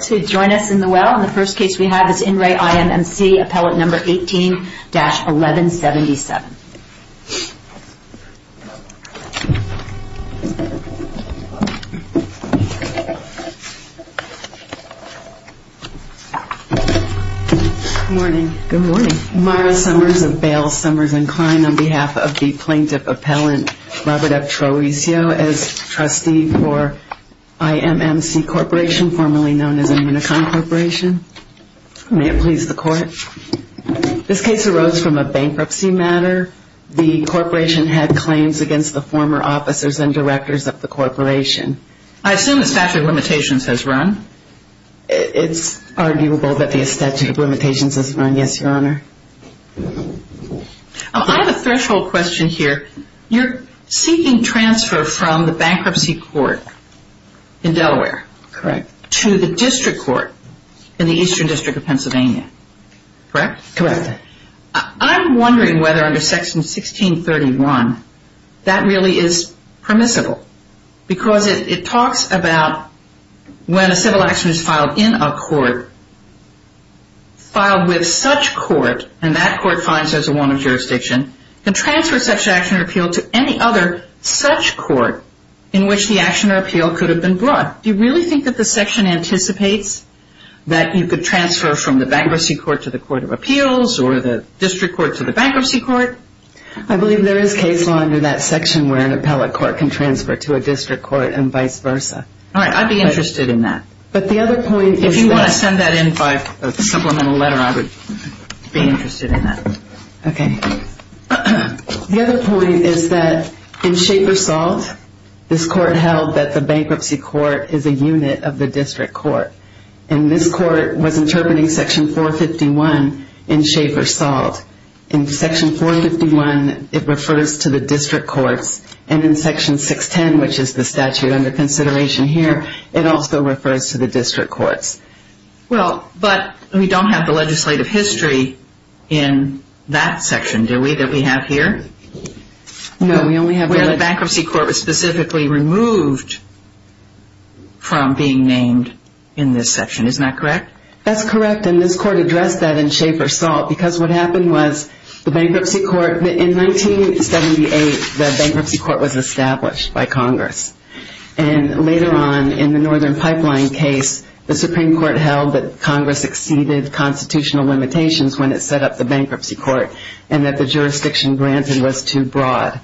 to join us in the well. The first case we have is In Re IMMC Appellant number 18-1177. Good morning. Good morning. Myra Summers of Bales, Summers & Kline on behalf of the plaintiff Robert F. Troesio as trustee for IMMC Corporation, formerly known as the Minicom Corporation. May it please the court. This case arose from a bankruptcy matter. The corporation had claims against the former officers and directors of the corporation. I assume the statute of limitations has run. It's arguable that the statute of limitations has run, yes, your honor. I have a threshold question here. You're seeking transfer from the bankruptcy court in Delaware. Correct. To the district court in the Eastern District of Pennsylvania, correct? Correct. I'm wondering whether under section 1631 that really is permissible. Because it talks about when a civil action is filed in a court, filed with such court, and that court finds there's a warrant of jurisdiction, can transfer such action or appeal to any other such court in which the action or appeal could have been brought. Do you really think that the section anticipates that you could transfer from the bankruptcy court to the court of appeals or the district court to the bankruptcy court? I believe there is case law under that section where an appellate court can transfer to a district court and vice versa. All right. I'd be interested in that. But the other point is that If you want to send that in by a supplemental letter, I would be interested in that. Okay. The other point is that in shape or salt, this court held that the bankruptcy court is a unit of the district court. And this court was interpreting section 451 in shape or salt. In section 451, it refers to the district courts. And in section 610, which is the statute under consideration here, it also refers to the district courts. Well, but we don't have the legislative history in that section, do we, that we have here? No, we only have Where the bankruptcy court was specifically removed from being named in this section. Isn't that correct? That's correct. And this court addressed that in shape or salt because what happened was the bankruptcy court In 1978, the bankruptcy court was established by Congress. And later on in the Northern Pipeline case, the Supreme Court held that Congress exceeded constitutional limitations when it set up the bankruptcy court and that the jurisdiction granted was too broad.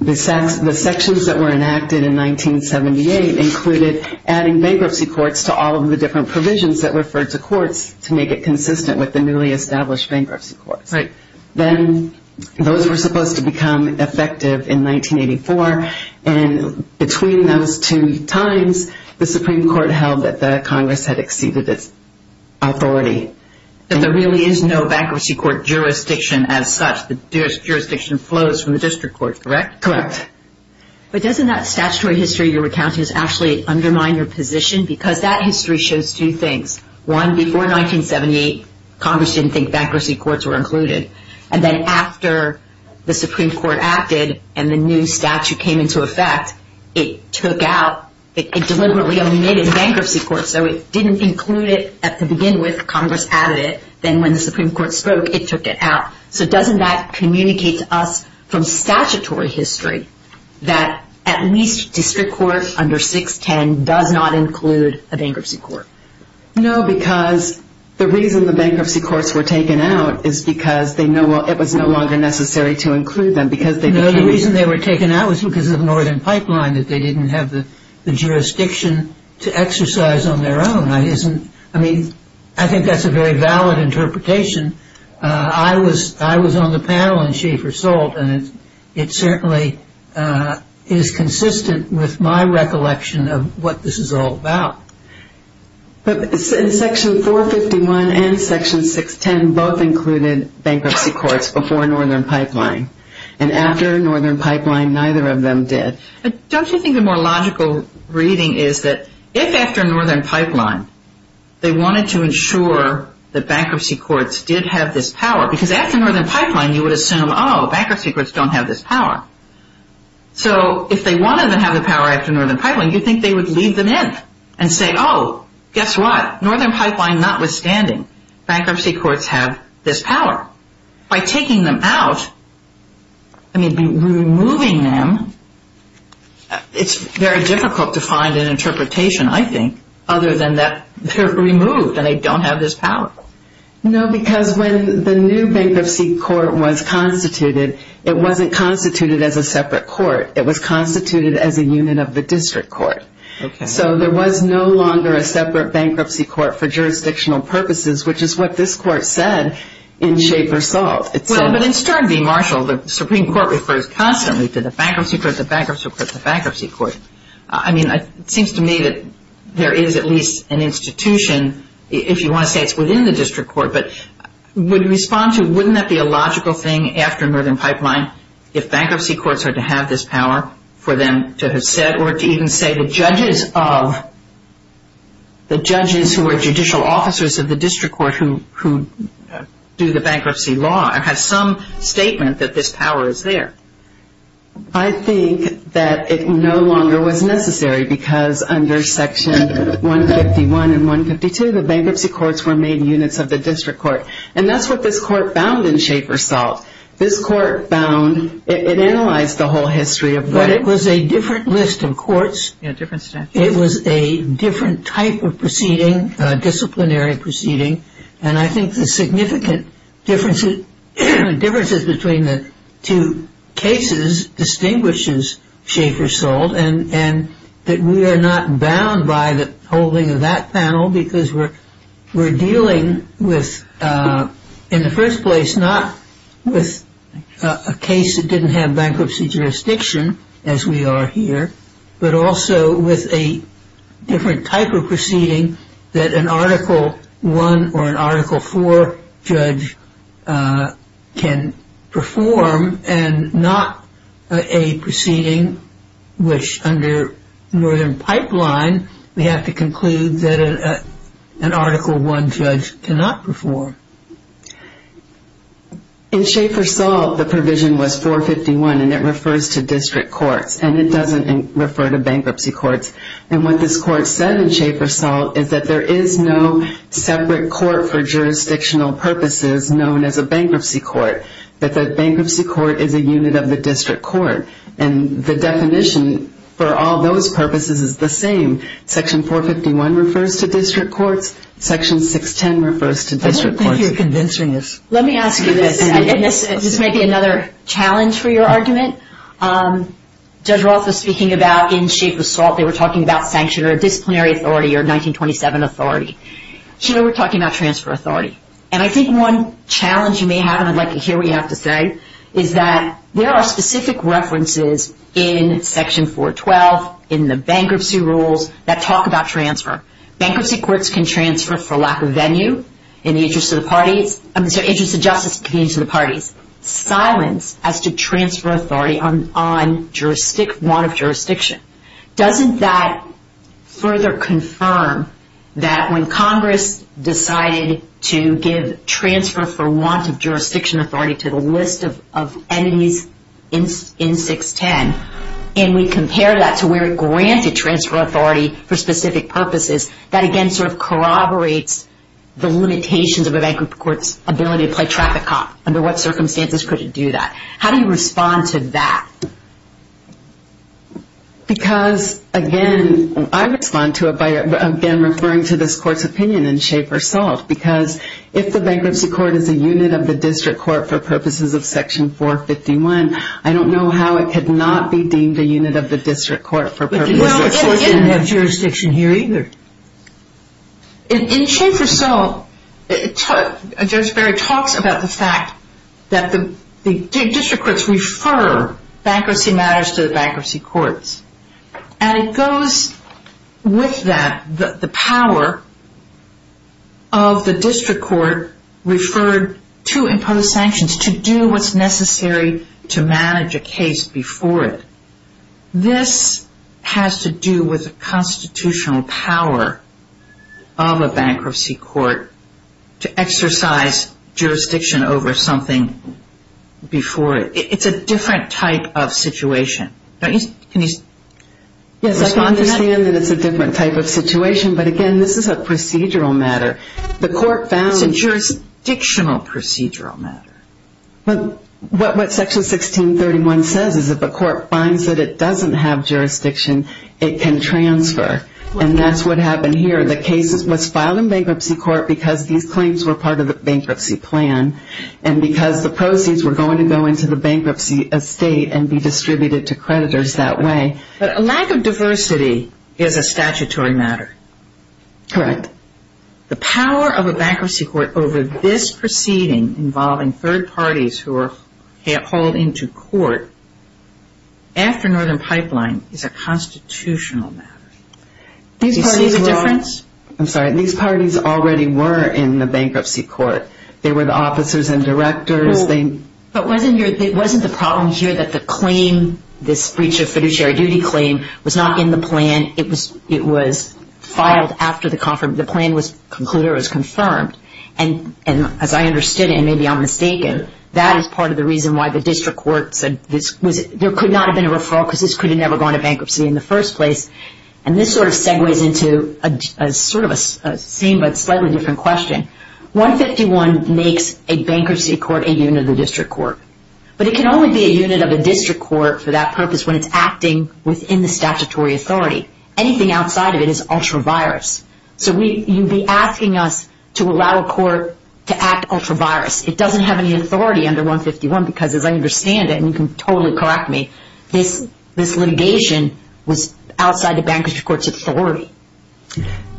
The sections that were enacted in 1978 included adding bankruptcy courts to all of the different provisions that referred to courts to make it consistent with the newly established bankruptcy courts. Right. Then those were supposed to become effective in 1984. And between those two times, the Supreme Court held that the Congress had exceeded its authority. And there really is no bankruptcy court jurisdiction as such. The jurisdiction flows from the district court, correct? Correct. But doesn't that statutory history you're recounting actually undermine your position? Because that history shows two things. One, before 1978, Congress didn't think bankruptcy courts were included. And then after the Supreme Court acted and the new statute came into effect, it deliberately omitted bankruptcy courts. So it didn't include it to begin with. Congress added it. Then when the Supreme Court spoke, it took it out. So doesn't that communicate to us from statutory history that at least district court under 610 does not include a bankruptcy court? No, because the reason the bankruptcy courts were taken out is because it was no longer necessary to include them. No, the reason they were taken out was because of Northern Pipeline, that they didn't have the jurisdiction to exercise on their own. I think that's a very valid interpretation. I was on the panel in Schaefer Salt, and it certainly is consistent with my recollection of what this is all about. But Section 451 and Section 610 both included bankruptcy courts before Northern Pipeline. And after Northern Pipeline, neither of them did. Don't you think the more logical reading is that if after Northern Pipeline, they wanted to ensure that bankruptcy courts did have this power, because after Northern Pipeline, you would assume, oh, bankruptcy courts don't have this power. So if they wanted to have the power after Northern Pipeline, you'd think they would leave them in and say, oh, guess what? Northern Pipeline notwithstanding, bankruptcy courts have this power. By taking them out, I mean removing them, it's very difficult to find an interpretation, I think, other than that they're removed and they don't have this power. No, because when the new bankruptcy court was constituted, it wasn't constituted as a separate court. It was constituted as a unit of the district court. Okay. So there was no longer a separate bankruptcy court for jurisdictional purposes, which is what this court said in shape or salt. Well, but in Stern v. Marshall, the Supreme Court refers constantly to the bankruptcy court, the bankruptcy court, the bankruptcy court. I mean, it seems to me that there is at least an institution, if you want to say it's within the district court, but would respond to wouldn't that be a logical thing after Northern Pipeline if bankruptcy courts are to have this power for them to have said or to even say the judges of, the judges who are judicial officers of the district court who do the bankruptcy law have some statement that this power is there? I think that it no longer was necessary because under Section 151 and 152, the bankruptcy courts were made units of the district court. And that's what this court found in shape or salt. This court found, it analyzed the whole history of what But it was a different list of courts. Yeah, different statute. It was a different type of proceeding, disciplinary proceeding. And I think the significant differences between the two cases distinguishes shape or salt. And that we are not bound by the holding of that panel because we're dealing with, in the first place, not with a case that didn't have bankruptcy jurisdiction, as we are here, but also with a different type of proceeding that an Article 1 or an Article 4 judge can perform and not a proceeding, which under Northern Pipeline, we have to conclude that an Article 1 judge cannot perform. In shape or salt, the provision was 451 and it refers to district courts and it doesn't refer to bankruptcy courts. And what this court said in shape or salt is that there is no separate court for jurisdictional purposes known as a bankruptcy court. That the bankruptcy court is a unit of the district court. And the definition for all those purposes is the same. Section 451 refers to district courts. Section 610 refers to district courts. I don't think you're convincing us. Let me ask you this. This may be another challenge for your argument. Judge Roth was speaking about in shape or salt. They were talking about sanction or disciplinary authority or 1927 authority. Here we're talking about transfer authority. And I think one challenge you may have, and I'd like to hear what you have to say, is that there are specific references in Section 412 in the bankruptcy rules that talk about transfer. Bankruptcy courts can transfer for lack of venue in the interest of the parties. I'm sorry, interest of justice in the interest of the parties. Silence as to transfer authority on want of jurisdiction. Doesn't that further confirm that when Congress decided to give transfer for want of jurisdiction authority to the list of enemies in 610, and we compare that to where it granted transfer authority for specific purposes, that again sort of corroborates the limitations of a bankruptcy court's ability to play traffic cop. Under what circumstances could it do that? How do you respond to that? Because again, I respond to it by again referring to this court's opinion in shape or salt. Because if the bankruptcy court is a unit of the district court for purposes of Section 451, I don't know how it could not be deemed a unit of the district court for purposes of Section 451. But you know, it didn't have jurisdiction here either. In shape or salt, Judge Barry talks about the fact that the district courts refer bankruptcy matters to the bankruptcy courts. And it goes with that, the power of the district court referred to impose sanctions to do what's necessary to manage a case before it. This has to do with the constitutional power of a bankruptcy court to exercise jurisdiction over something before it. It's a different type of situation. Can you respond to that? Yes, I can understand that it's a different type of situation. But again, this is a procedural matter. It's a jurisdictional procedural matter. But what Section 1631 says is if a court finds that it doesn't have jurisdiction, it can transfer. And that's what happened here. The cases must file in bankruptcy court because these claims were part of the bankruptcy plan. And because the proceeds were going to go into the bankruptcy estate and be distributed to creditors that way. But a lack of diversity is a statutory matter. Correct. The power of a bankruptcy court over this proceeding involving third parties who are hauled into court after Northern Pipeline is a constitutional matter. Do you see the difference? I'm sorry. These parties already were in the bankruptcy court. They were the officers and directors. But wasn't the problem here that the claim, this breach of fiduciary duty claim, was not in the plan. It was filed after the plan was concluded or was confirmed. And as I understood it, and maybe I'm mistaken, that is part of the reason why the district court said there could not have been a referral because this could have never gone to bankruptcy in the first place. And this sort of segues into sort of a same but slightly different question. 151 makes a bankruptcy court a unit of the district court. But it can only be a unit of a district court for that purpose when it's acting within the statutory authority. Anything outside of it is ultra-virus. So you'd be asking us to allow a court to act ultra-virus. It doesn't have any authority under 151 because as I understand it, and you can totally correct me, this litigation was outside the bankruptcy court's authority.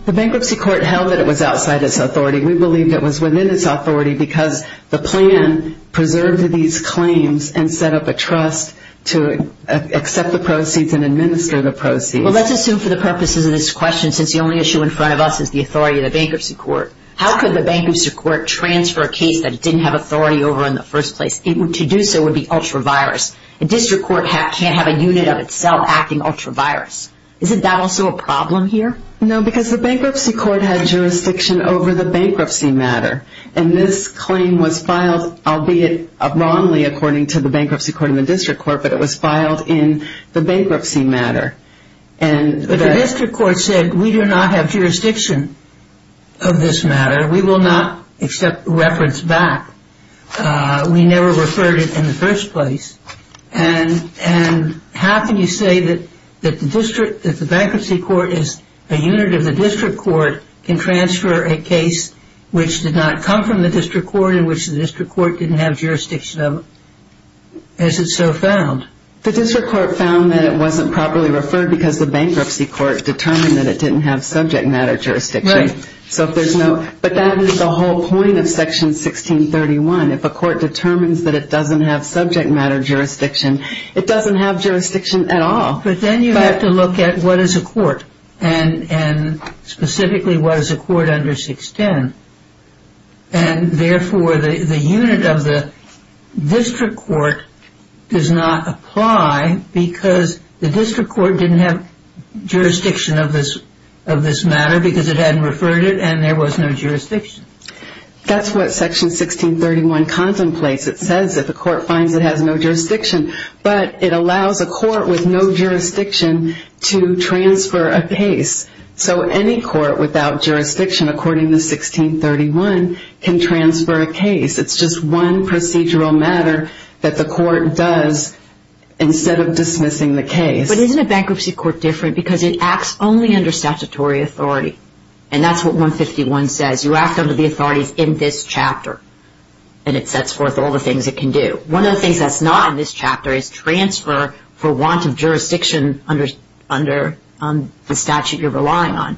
The bankruptcy court held that it was outside its authority. We believe it was within its authority because the plan preserved these claims and set up a trust to accept the proceeds and administer the proceeds. Well, let's assume for the purposes of this question, since the only issue in front of us is the authority of the bankruptcy court, how could the bankruptcy court transfer a case that it didn't have authority over in the first place? To do so would be ultra-virus. A district court can't have a unit of itself acting ultra-virus. Isn't that also a problem here? No, because the bankruptcy court had jurisdiction over the bankruptcy matter. And this claim was filed, albeit wrongly according to the bankruptcy court and the district court, but it was filed in the bankruptcy matter. But the district court said, we do not have jurisdiction of this matter. We will not accept reference back. We never referred it in the first place. And how can you say that the bankruptcy court is a unit of the district court can transfer a case which did not come from the district court in which the district court didn't have jurisdiction of it? As it's so found. The district court found that it wasn't properly referred because the bankruptcy court determined that it didn't have subject matter jurisdiction. Right. But that is the whole point of Section 1631. If a court determines that it doesn't have subject matter jurisdiction, it doesn't have jurisdiction at all. But then you have to look at what is a court, and specifically what is a court under 610. And therefore, the unit of the district court does not apply because the district court didn't have jurisdiction of this matter because it hadn't referred it and there was no jurisdiction. That's what Section 1631 contemplates. It says that the court finds it has no jurisdiction. But it allows a court with no jurisdiction to transfer a case. So any court without jurisdiction, according to 1631, can transfer a case. It's just one procedural matter that the court does instead of dismissing the case. But isn't a bankruptcy court different because it acts only under statutory authority? And that's what 151 says. You act under the authorities in this chapter. And it sets forth all the things it can do. One of the things that's not in this chapter is transfer for want of jurisdiction under the statute you're relying on.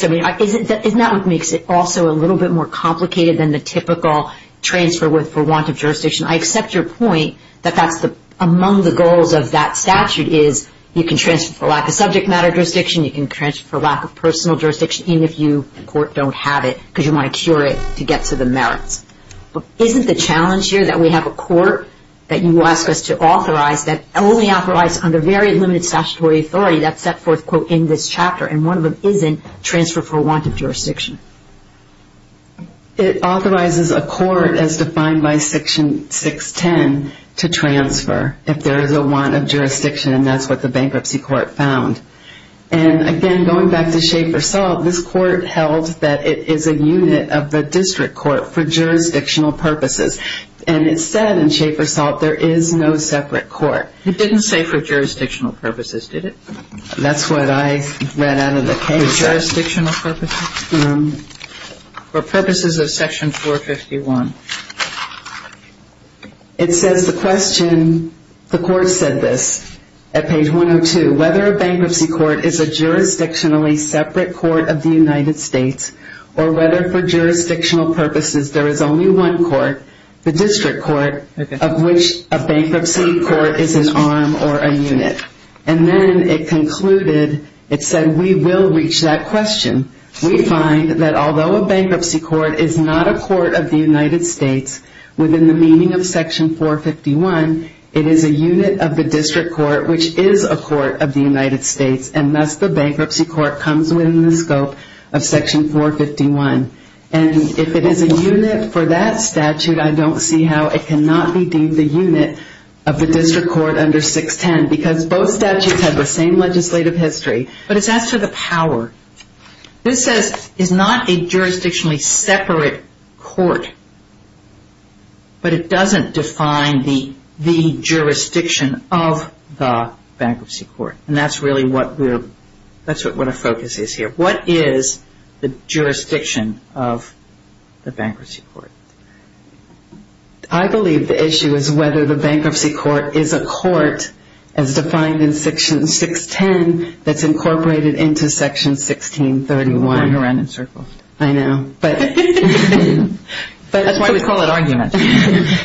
Isn't that what makes it also a little bit more complicated than the typical transfer for want of jurisdiction? I accept your point that among the goals of that statute is you can transfer for lack of subject matter jurisdiction, you can transfer for lack of personal jurisdiction even if you, the court, don't have it because you want to cure it to get to the merits. But isn't the challenge here that we have a court that you ask us to authorize that only authorizes under very limited statutory authority that's set forth in this chapter and one of them isn't transfer for want of jurisdiction? It authorizes a court as defined by Section 610 to transfer if there is a want of jurisdiction, and that's what the bankruptcy court found. And, again, going back to Schaefer Salt, this court held that it is a unit of the district court for jurisdictional purposes. And it said in Schaefer Salt there is no separate court. It didn't say for jurisdictional purposes, did it? That's what I read out of the case. For jurisdictional purposes? For purposes of Section 451. It says the question, the court said this at page 102, whether a bankruptcy court is a jurisdictionally separate court of the United States or whether for jurisdictional purposes there is only one court, the district court, of which a bankruptcy court is an arm or a unit. And then it concluded, it said we will reach that question. We find that although a bankruptcy court is not a court of the United States within the meaning of Section 451, it is a unit of the district court which is a court of the United States, and thus the bankruptcy court comes within the scope of Section 451. And if it is a unit for that statute, I don't see how it cannot be deemed a unit of the district court under 610 because both statutes have the same legislative history. But as for the power, this says it's not a jurisdictionally separate court, but it doesn't define the jurisdiction of the bankruptcy court. And that's really what we're, that's what our focus is here. What is the jurisdiction of the bankruptcy court? I believe the issue is whether the bankruptcy court is a court as defined in Section 610 that's incorporated into Section 1631. We're going around in circles. I know. That's why we call it argument.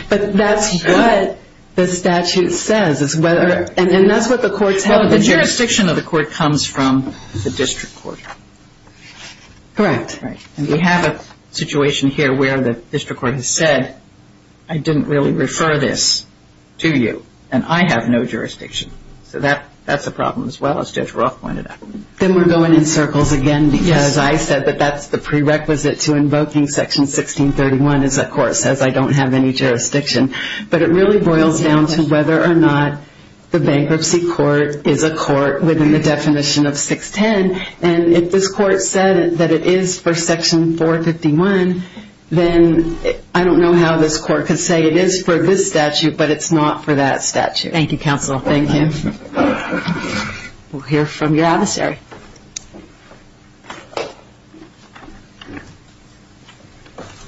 But that's what the statute says, and that's what the courts have. Well, the jurisdiction of the court comes from the district court. Correct. And we have a situation here where the district court has said, I didn't really refer this to you, and I have no jurisdiction. So that's a problem as well, as Judge Roth pointed out. Then we're going in circles again because I said that that's the prerequisite to invoking Section 1631 is that court says I don't have any jurisdiction. But it really boils down to whether or not the bankruptcy court is a court within the definition of 610. And if this court said that it is for Section 451, then I don't know how this court could say it is for this statute, but it's not for that statute. Thank you, Counsel. Thank you. We'll hear from your adversary.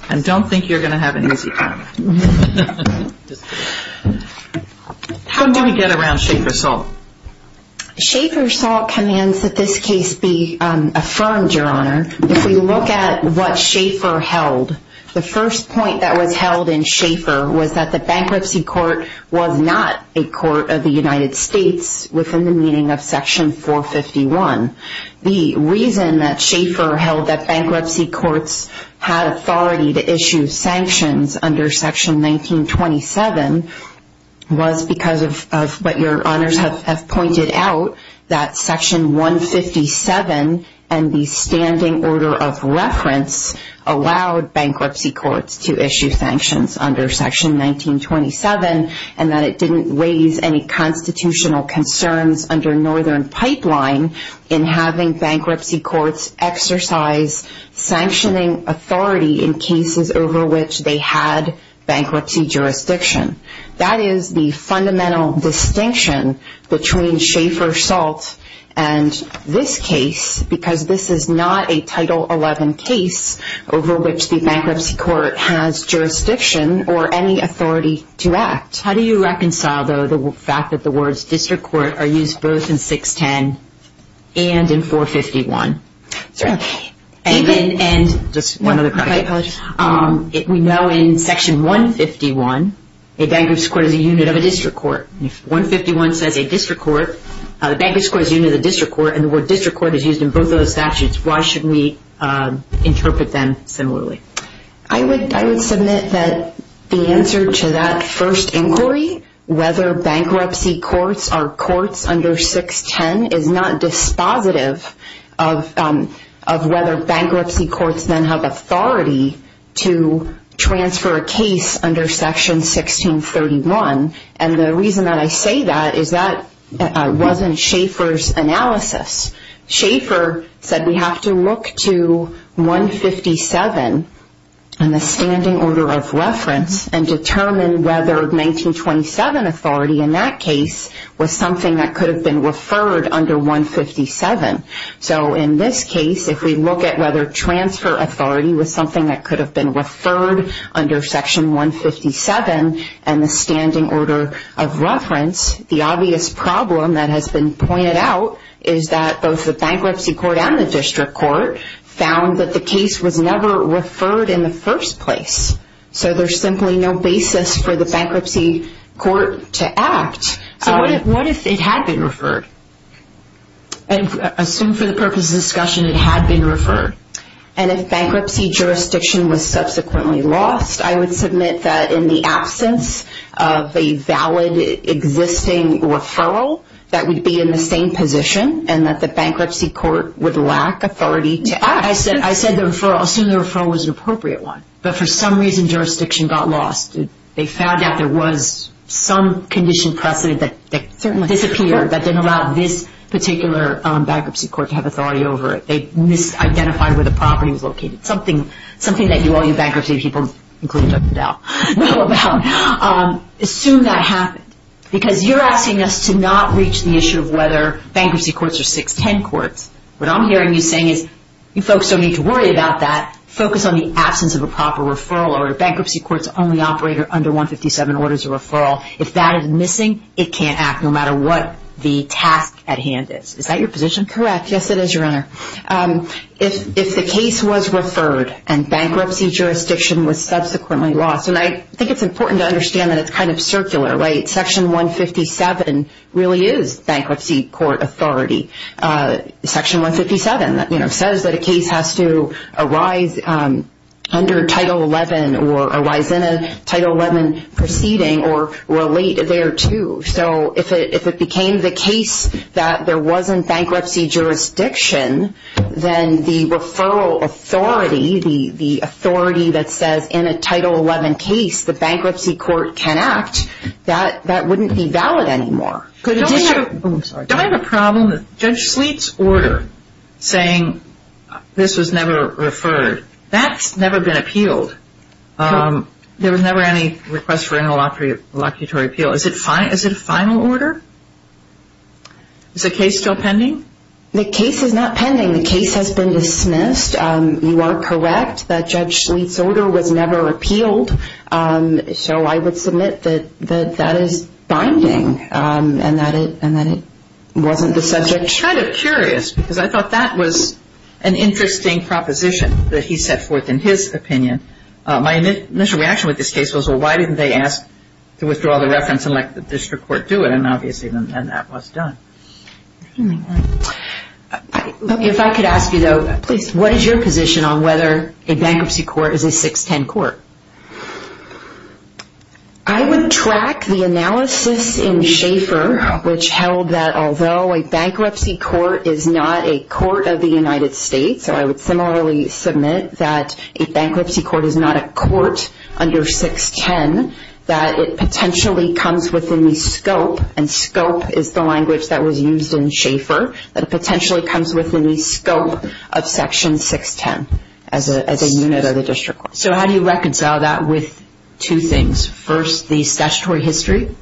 I don't think you're going to have an easy time. How did we get around Schaefer Salt? Schaefer Salt commands that this case be affirmed, Your Honor. If we look at what Schaefer held, the first point that was held in Schaefer was that the bankruptcy court was not a court of the United States within the meaning of Section 451. The reason that Schaefer held that bankruptcy courts had authority to issue sanctions under Section 1927 was because of what Your Honors have pointed out, that Section 157 and the standing order of reference allowed bankruptcy courts to issue sanctions under Section 1927 and that it didn't raise any constitutional concerns under Northern Pipeline in having bankruptcy courts exercise sanctioning authority in cases over which they had bankruptcy jurisdiction. That is the fundamental distinction between Schaefer Salt and this case because this is not a Title 11 case over which the bankruptcy court has jurisdiction or any authority to act. How do you reconcile, though, the fact that the words district court are used both in 610 and in 451? We know in Section 151 a bankruptcy court is a unit of a district court. If 151 says a district court, the bankruptcy court is a unit of the district court and the word district court is used in both of those statutes, why should we interpret them similarly? I would submit that the answer to that first inquiry, whether bankruptcy courts are courts under 610, is not dispositive of whether bankruptcy courts then have authority to transfer a case under Section 1631. The reason that I say that is that wasn't Schaefer's analysis. Schaefer said we have to look to 157 in the standing order of reference and determine whether 1927 authority in that case was something that could have been referred under 157. In this case, if we look at whether transfer authority was something that could have been referred under Section 157 in the standing order of reference, the obvious problem that has been pointed out is that both the bankruptcy court and the district court found that the case was never referred in the first place. So there's simply no basis for the bankruptcy court to act. What if it had been referred? Assume for the purpose of this discussion it had been referred. And if bankruptcy jurisdiction was subsequently lost, I would submit that in the absence of a valid existing referral, that would be in the same position and that the bankruptcy court would lack authority to act. I said the referral, assume the referral was an appropriate one, but for some reason jurisdiction got lost. They found out there was some condition precedent that disappeared that didn't allow this particular bankruptcy court to have authority over it. They misidentified where the property was located, something that all you bankruptcy people, including Dr. Dell, know about. Assume that happened because you're asking us to not reach the issue of whether bankruptcy courts are 610 courts. What I'm hearing you saying is you folks don't need to worry about that. Focus on the absence of a proper referral or a bankruptcy court's only operator under 157 orders a referral. If that is missing, it can't act no matter what the task at hand is. Is that your position? Correct. Yes, it is, Your Honor. If the case was referred and bankruptcy jurisdiction was subsequently lost, and I think it's important to understand that it's kind of circular. Section 157 really is bankruptcy court authority. Section 157 says that a case has to arise under Title XI or arise in a Title XI proceeding or relate thereto. If it became the case that there wasn't bankruptcy jurisdiction, then the referral authority, the authority that says in a Title XI case the bankruptcy court can act, that wouldn't be valid anymore. Don't I have a problem? Judge Sleet's order saying this was never referred, that's never been appealed. There was never any request for interlocutory appeal. Is it a final order? Is the case still pending? The case is not pending. The case has been dismissed. You are correct that Judge Sleet's order was never appealed. So I would submit that that is binding and that it wasn't the subject. I'm kind of curious because I thought that was an interesting proposition that he set forth in his opinion. My initial reaction with this case was, well, why didn't they ask to withdraw the reference and let the district court do it? And obviously then that was done. If I could ask you, though, please, what is your position on whether a bankruptcy court is a 610 court? I would track the analysis in Schaefer, which held that although a bankruptcy court is not a court of the United States, so I would similarly submit that a bankruptcy court is not a court under 610, that it potentially comes within the scope, and scope is the language that was used in Schaefer, that it potentially comes within the scope of Section 610 as a unit of the district court. So how do you reconcile that with two things? First, the statutory history,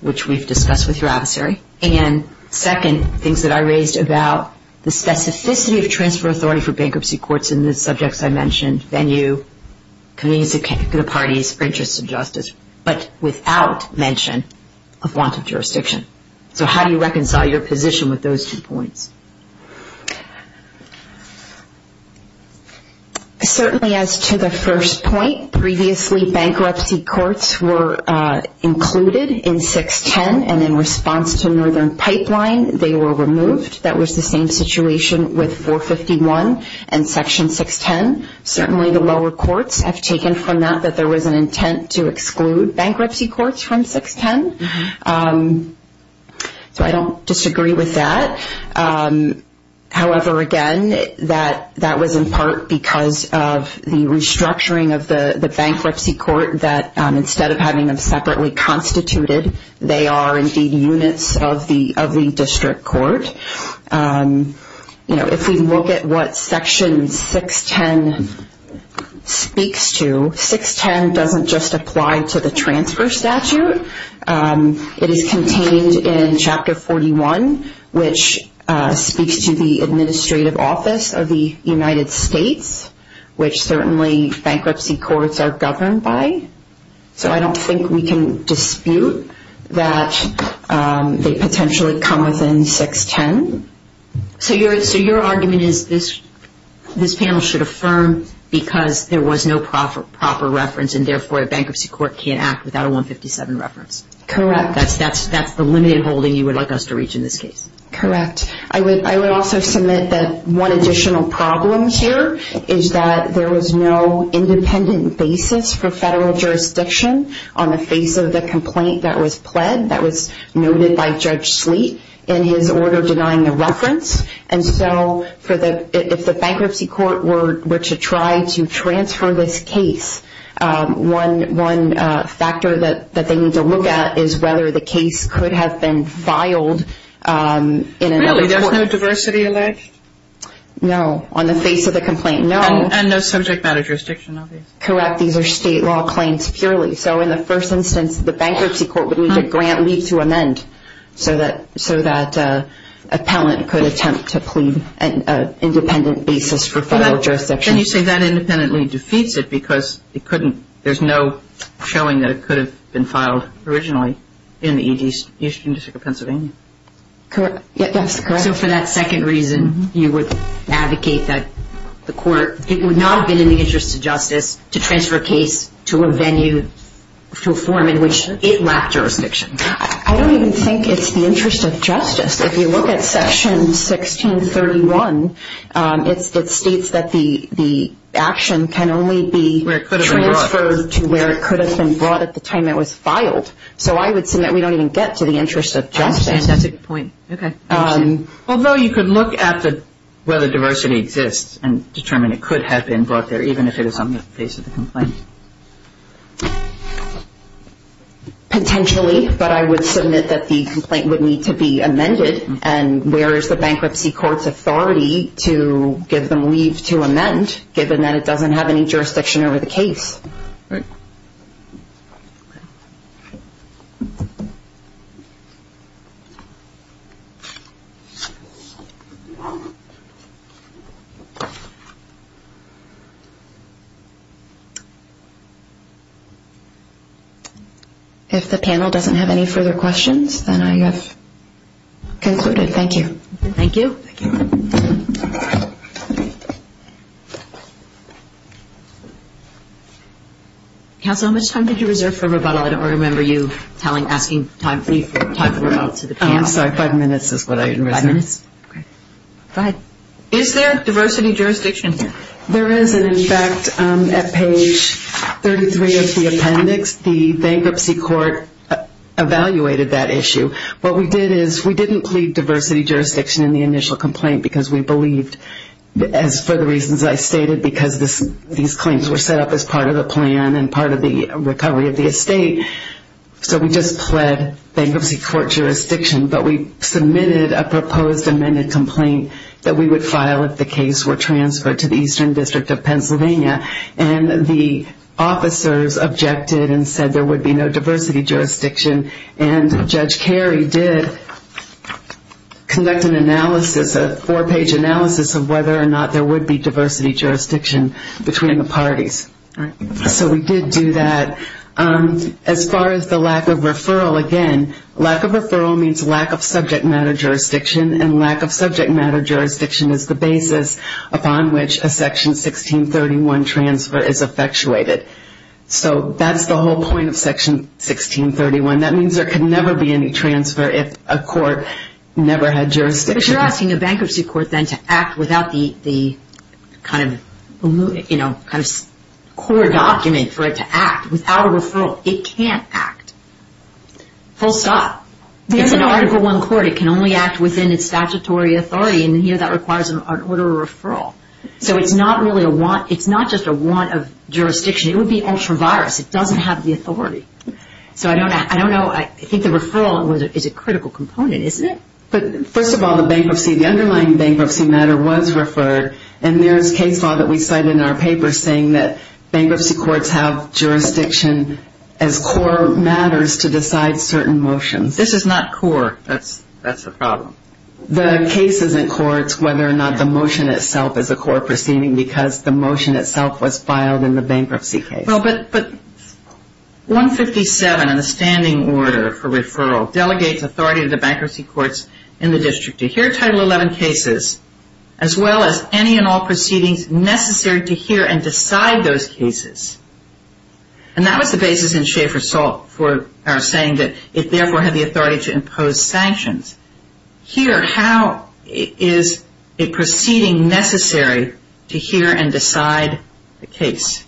which we've discussed with your adversary, and second, things that I raised about the specificity of transfer authority for bankruptcy courts in the subjects I mentioned, venue, communities of the parties, interests of justice, but without mention of want of jurisdiction. So how do you reconcile your position with those two points? Certainly as to the first point, previously bankruptcy courts were included in 610, and in response to Northern Pipeline, they were removed. That was the same situation with 451 and Section 610. Certainly the lower courts have taken from that that there was an intent to exclude bankruptcy courts from 610. So I don't disagree with that. However, again, that was in part because of the restructuring of the bankruptcy court that instead of having them separately constituted, they are indeed units of the district court. If we look at what Section 610 speaks to, 610 doesn't just apply to the transfer statute. It is contained in Chapter 41, which speaks to the administrative office of the United States, which certainly bankruptcy courts are governed by. So I don't think we can dispute that they potentially come within 610. So your argument is this panel should affirm because there was no proper reference and therefore a bankruptcy court can't act without a 157 reference. Correct. That's the limited holding you would like us to reach in this case. Correct. I would also submit that one additional problem here is that there was no independent basis for federal jurisdiction on the face of the complaint that was pled, that was noted by Judge Sleet in his order denying the reference. And so if the bankruptcy court were to try to transfer this case, one factor that they need to look at is whether the case could have been filed in another court. Really? There's no diversity alleged? No. On the face of the complaint, no. And no subject matter jurisdiction, obviously. Correct. These are state law claims purely. So in the first instance, the bankruptcy court would need a grant leave to amend so that an appellant could attempt to plead an independent basis for federal jurisdiction. Then you say that independently defeats it because it couldn't, there's no showing that it could have been filed originally in the East District of Pennsylvania. Correct. That's correct. So for that second reason, you would advocate that the court would not have been in the interest of justice to transfer a case to a venue, to a forum in which it lacked jurisdiction. I don't even think it's the interest of justice. If you look at Section 1631, it states that the action can only be transferred to where it could have been brought at the time it was filed. So I would say that we don't even get to the interest of justice. That's a good point. Okay. Although you could look at whether diversity exists and determine it could have been brought there even if it is on the face of the complaint. Potentially, but I would submit that the complaint would need to be amended and where is the bankruptcy court's authority to give them leave to amend given that it doesn't have any jurisdiction over the case? All right. If the panel doesn't have any further questions, then I have concluded. Thank you. Thank you. Thank you. Counsel, how much time did you reserve for rebuttal? I don't remember you asking time for rebuttal to the panel. I'm sorry. Five minutes is what I reserved. Five minutes? Okay. Go ahead. Is there diversity jurisdiction? There is, and in fact, at page 33 of the appendix, the bankruptcy court evaluated that issue. What we did is we didn't plead diversity jurisdiction in the initial complaint because we believed, as for the reasons I stated, because these claims were set up as part of the plan and part of the recovery of the estate. So we just pled bankruptcy court jurisdiction, but we submitted a proposed amended complaint that we would file if the case were transferred to the Eastern District of Pennsylvania. And the officers objected and said there would be no diversity jurisdiction, and Judge Carey did conduct an analysis, a four-page analysis, of whether or not there would be diversity jurisdiction between the parties. So we did do that. As far as the lack of referral, again, lack of referral means lack of subject matter jurisdiction, and lack of subject matter jurisdiction is the basis upon which a Section 1631 transfer is effectuated. So that's the whole point of Section 1631. That means there could never be any transfer if a court never had jurisdiction. But you're asking a bankruptcy court then to act without the kind of core document for it to act. Without a referral, it can't act. Full stop. It's an Article I court. It can only act within its statutory authority, and here that requires an order of referral. So it's not really a want. It's not just a want of jurisdiction. It would be ultra-virus. It doesn't have the authority. So I don't know. I think the referral is a critical component, isn't it? But first of all, the bankruptcy, the underlying bankruptcy matter was referred, and there is case law that we cite in our paper saying that bankruptcy courts have jurisdiction as core matters to decide certain motions. This is not core. That's the problem. The case isn't core. It's whether or not the motion itself is a core proceeding because the motion itself was filed in the bankruptcy case. Well, but 157 in the standing order for referral delegates authority to the bankruptcy courts in the district to hear Title XI cases as well as any and all proceedings necessary to hear and decide those cases, and that was the basis in Schaefer's saying that it therefore had the authority to impose sanctions. Here, how is a proceeding necessary to hear and decide the case?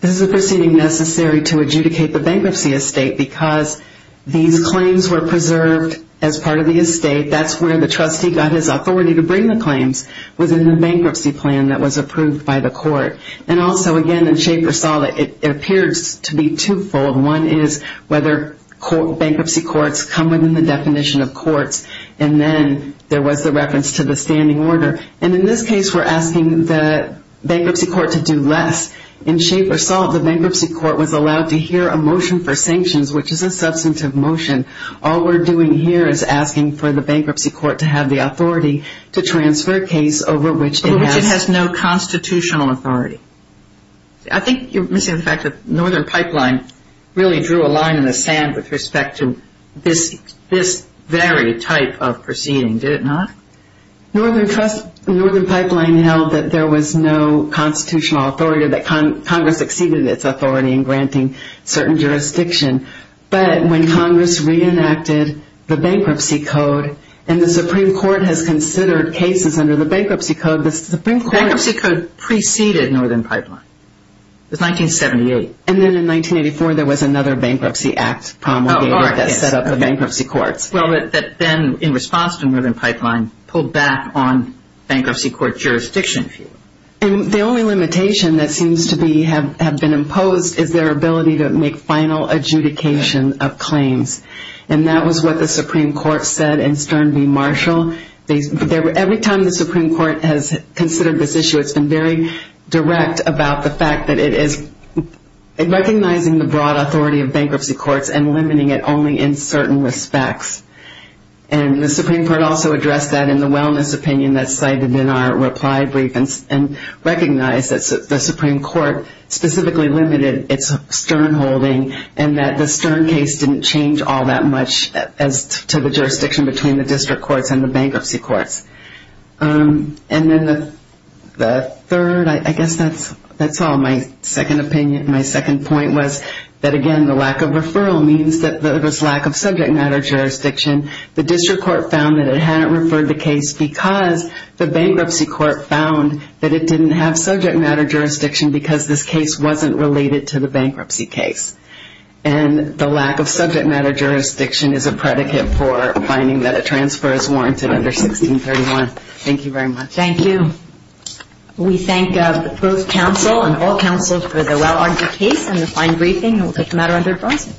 This is a proceeding necessary to adjudicate the bankruptcy estate because these claims were preserved as part of the estate. That's where the trustee got his authority to bring the claims within the bankruptcy plan that was approved by the court. And also, again, in Schaefer's thought, it appears to be twofold. One is whether bankruptcy courts come within the definition of courts, and then there was the reference to the standing order. And in this case, we're asking the bankruptcy court to do less. In Schaefer's thought, the bankruptcy court was allowed to hear a motion for sanctions, which is a substantive motion. All we're doing here is asking for the bankruptcy court to have the authority to transfer a case over which it has no constitutional authority. I think you're missing the fact that Northern Pipeline really drew a line in the sand with respect to this very type of proceeding, did it not? Northern Pipeline held that there was no constitutional authority or that Congress exceeded its authority in granting certain jurisdiction. But when Congress reenacted the bankruptcy code and the Supreme Court has considered cases under the bankruptcy code, the Supreme Court – It was 1978. And then in 1984, there was another bankruptcy act promulgated that set up the bankruptcy courts. Well, that then, in response to Northern Pipeline, pulled back on bankruptcy court jurisdiction. And the only limitation that seems to have been imposed is their ability to make final adjudication of claims. And that was what the Supreme Court said in Stern v. Marshall. Every time the Supreme Court has considered this issue, it's been very direct about the fact that it is recognizing the broad authority of bankruptcy courts and limiting it only in certain respects. And the Supreme Court also addressed that in the wellness opinion that's cited in our reply brief and recognized that the Supreme Court specifically limited its Stern holding and that the Stern case didn't change all that much as to the jurisdiction between the district courts and the bankruptcy courts. And then the third, I guess that's all. My second opinion, my second point was that, again, the lack of referral means that there was lack of subject matter jurisdiction. The district court found that it hadn't referred the case because the bankruptcy court found that it didn't have subject matter jurisdiction because this case wasn't related to the bankruptcy case. And the lack of subject matter jurisdiction is a predicate for finding that a transfer is warranted under 1631. Thank you very much. Thank you. We thank both counsel and all counsel for the well-argued case and the fine briefing. And we'll take the matter under adjournment.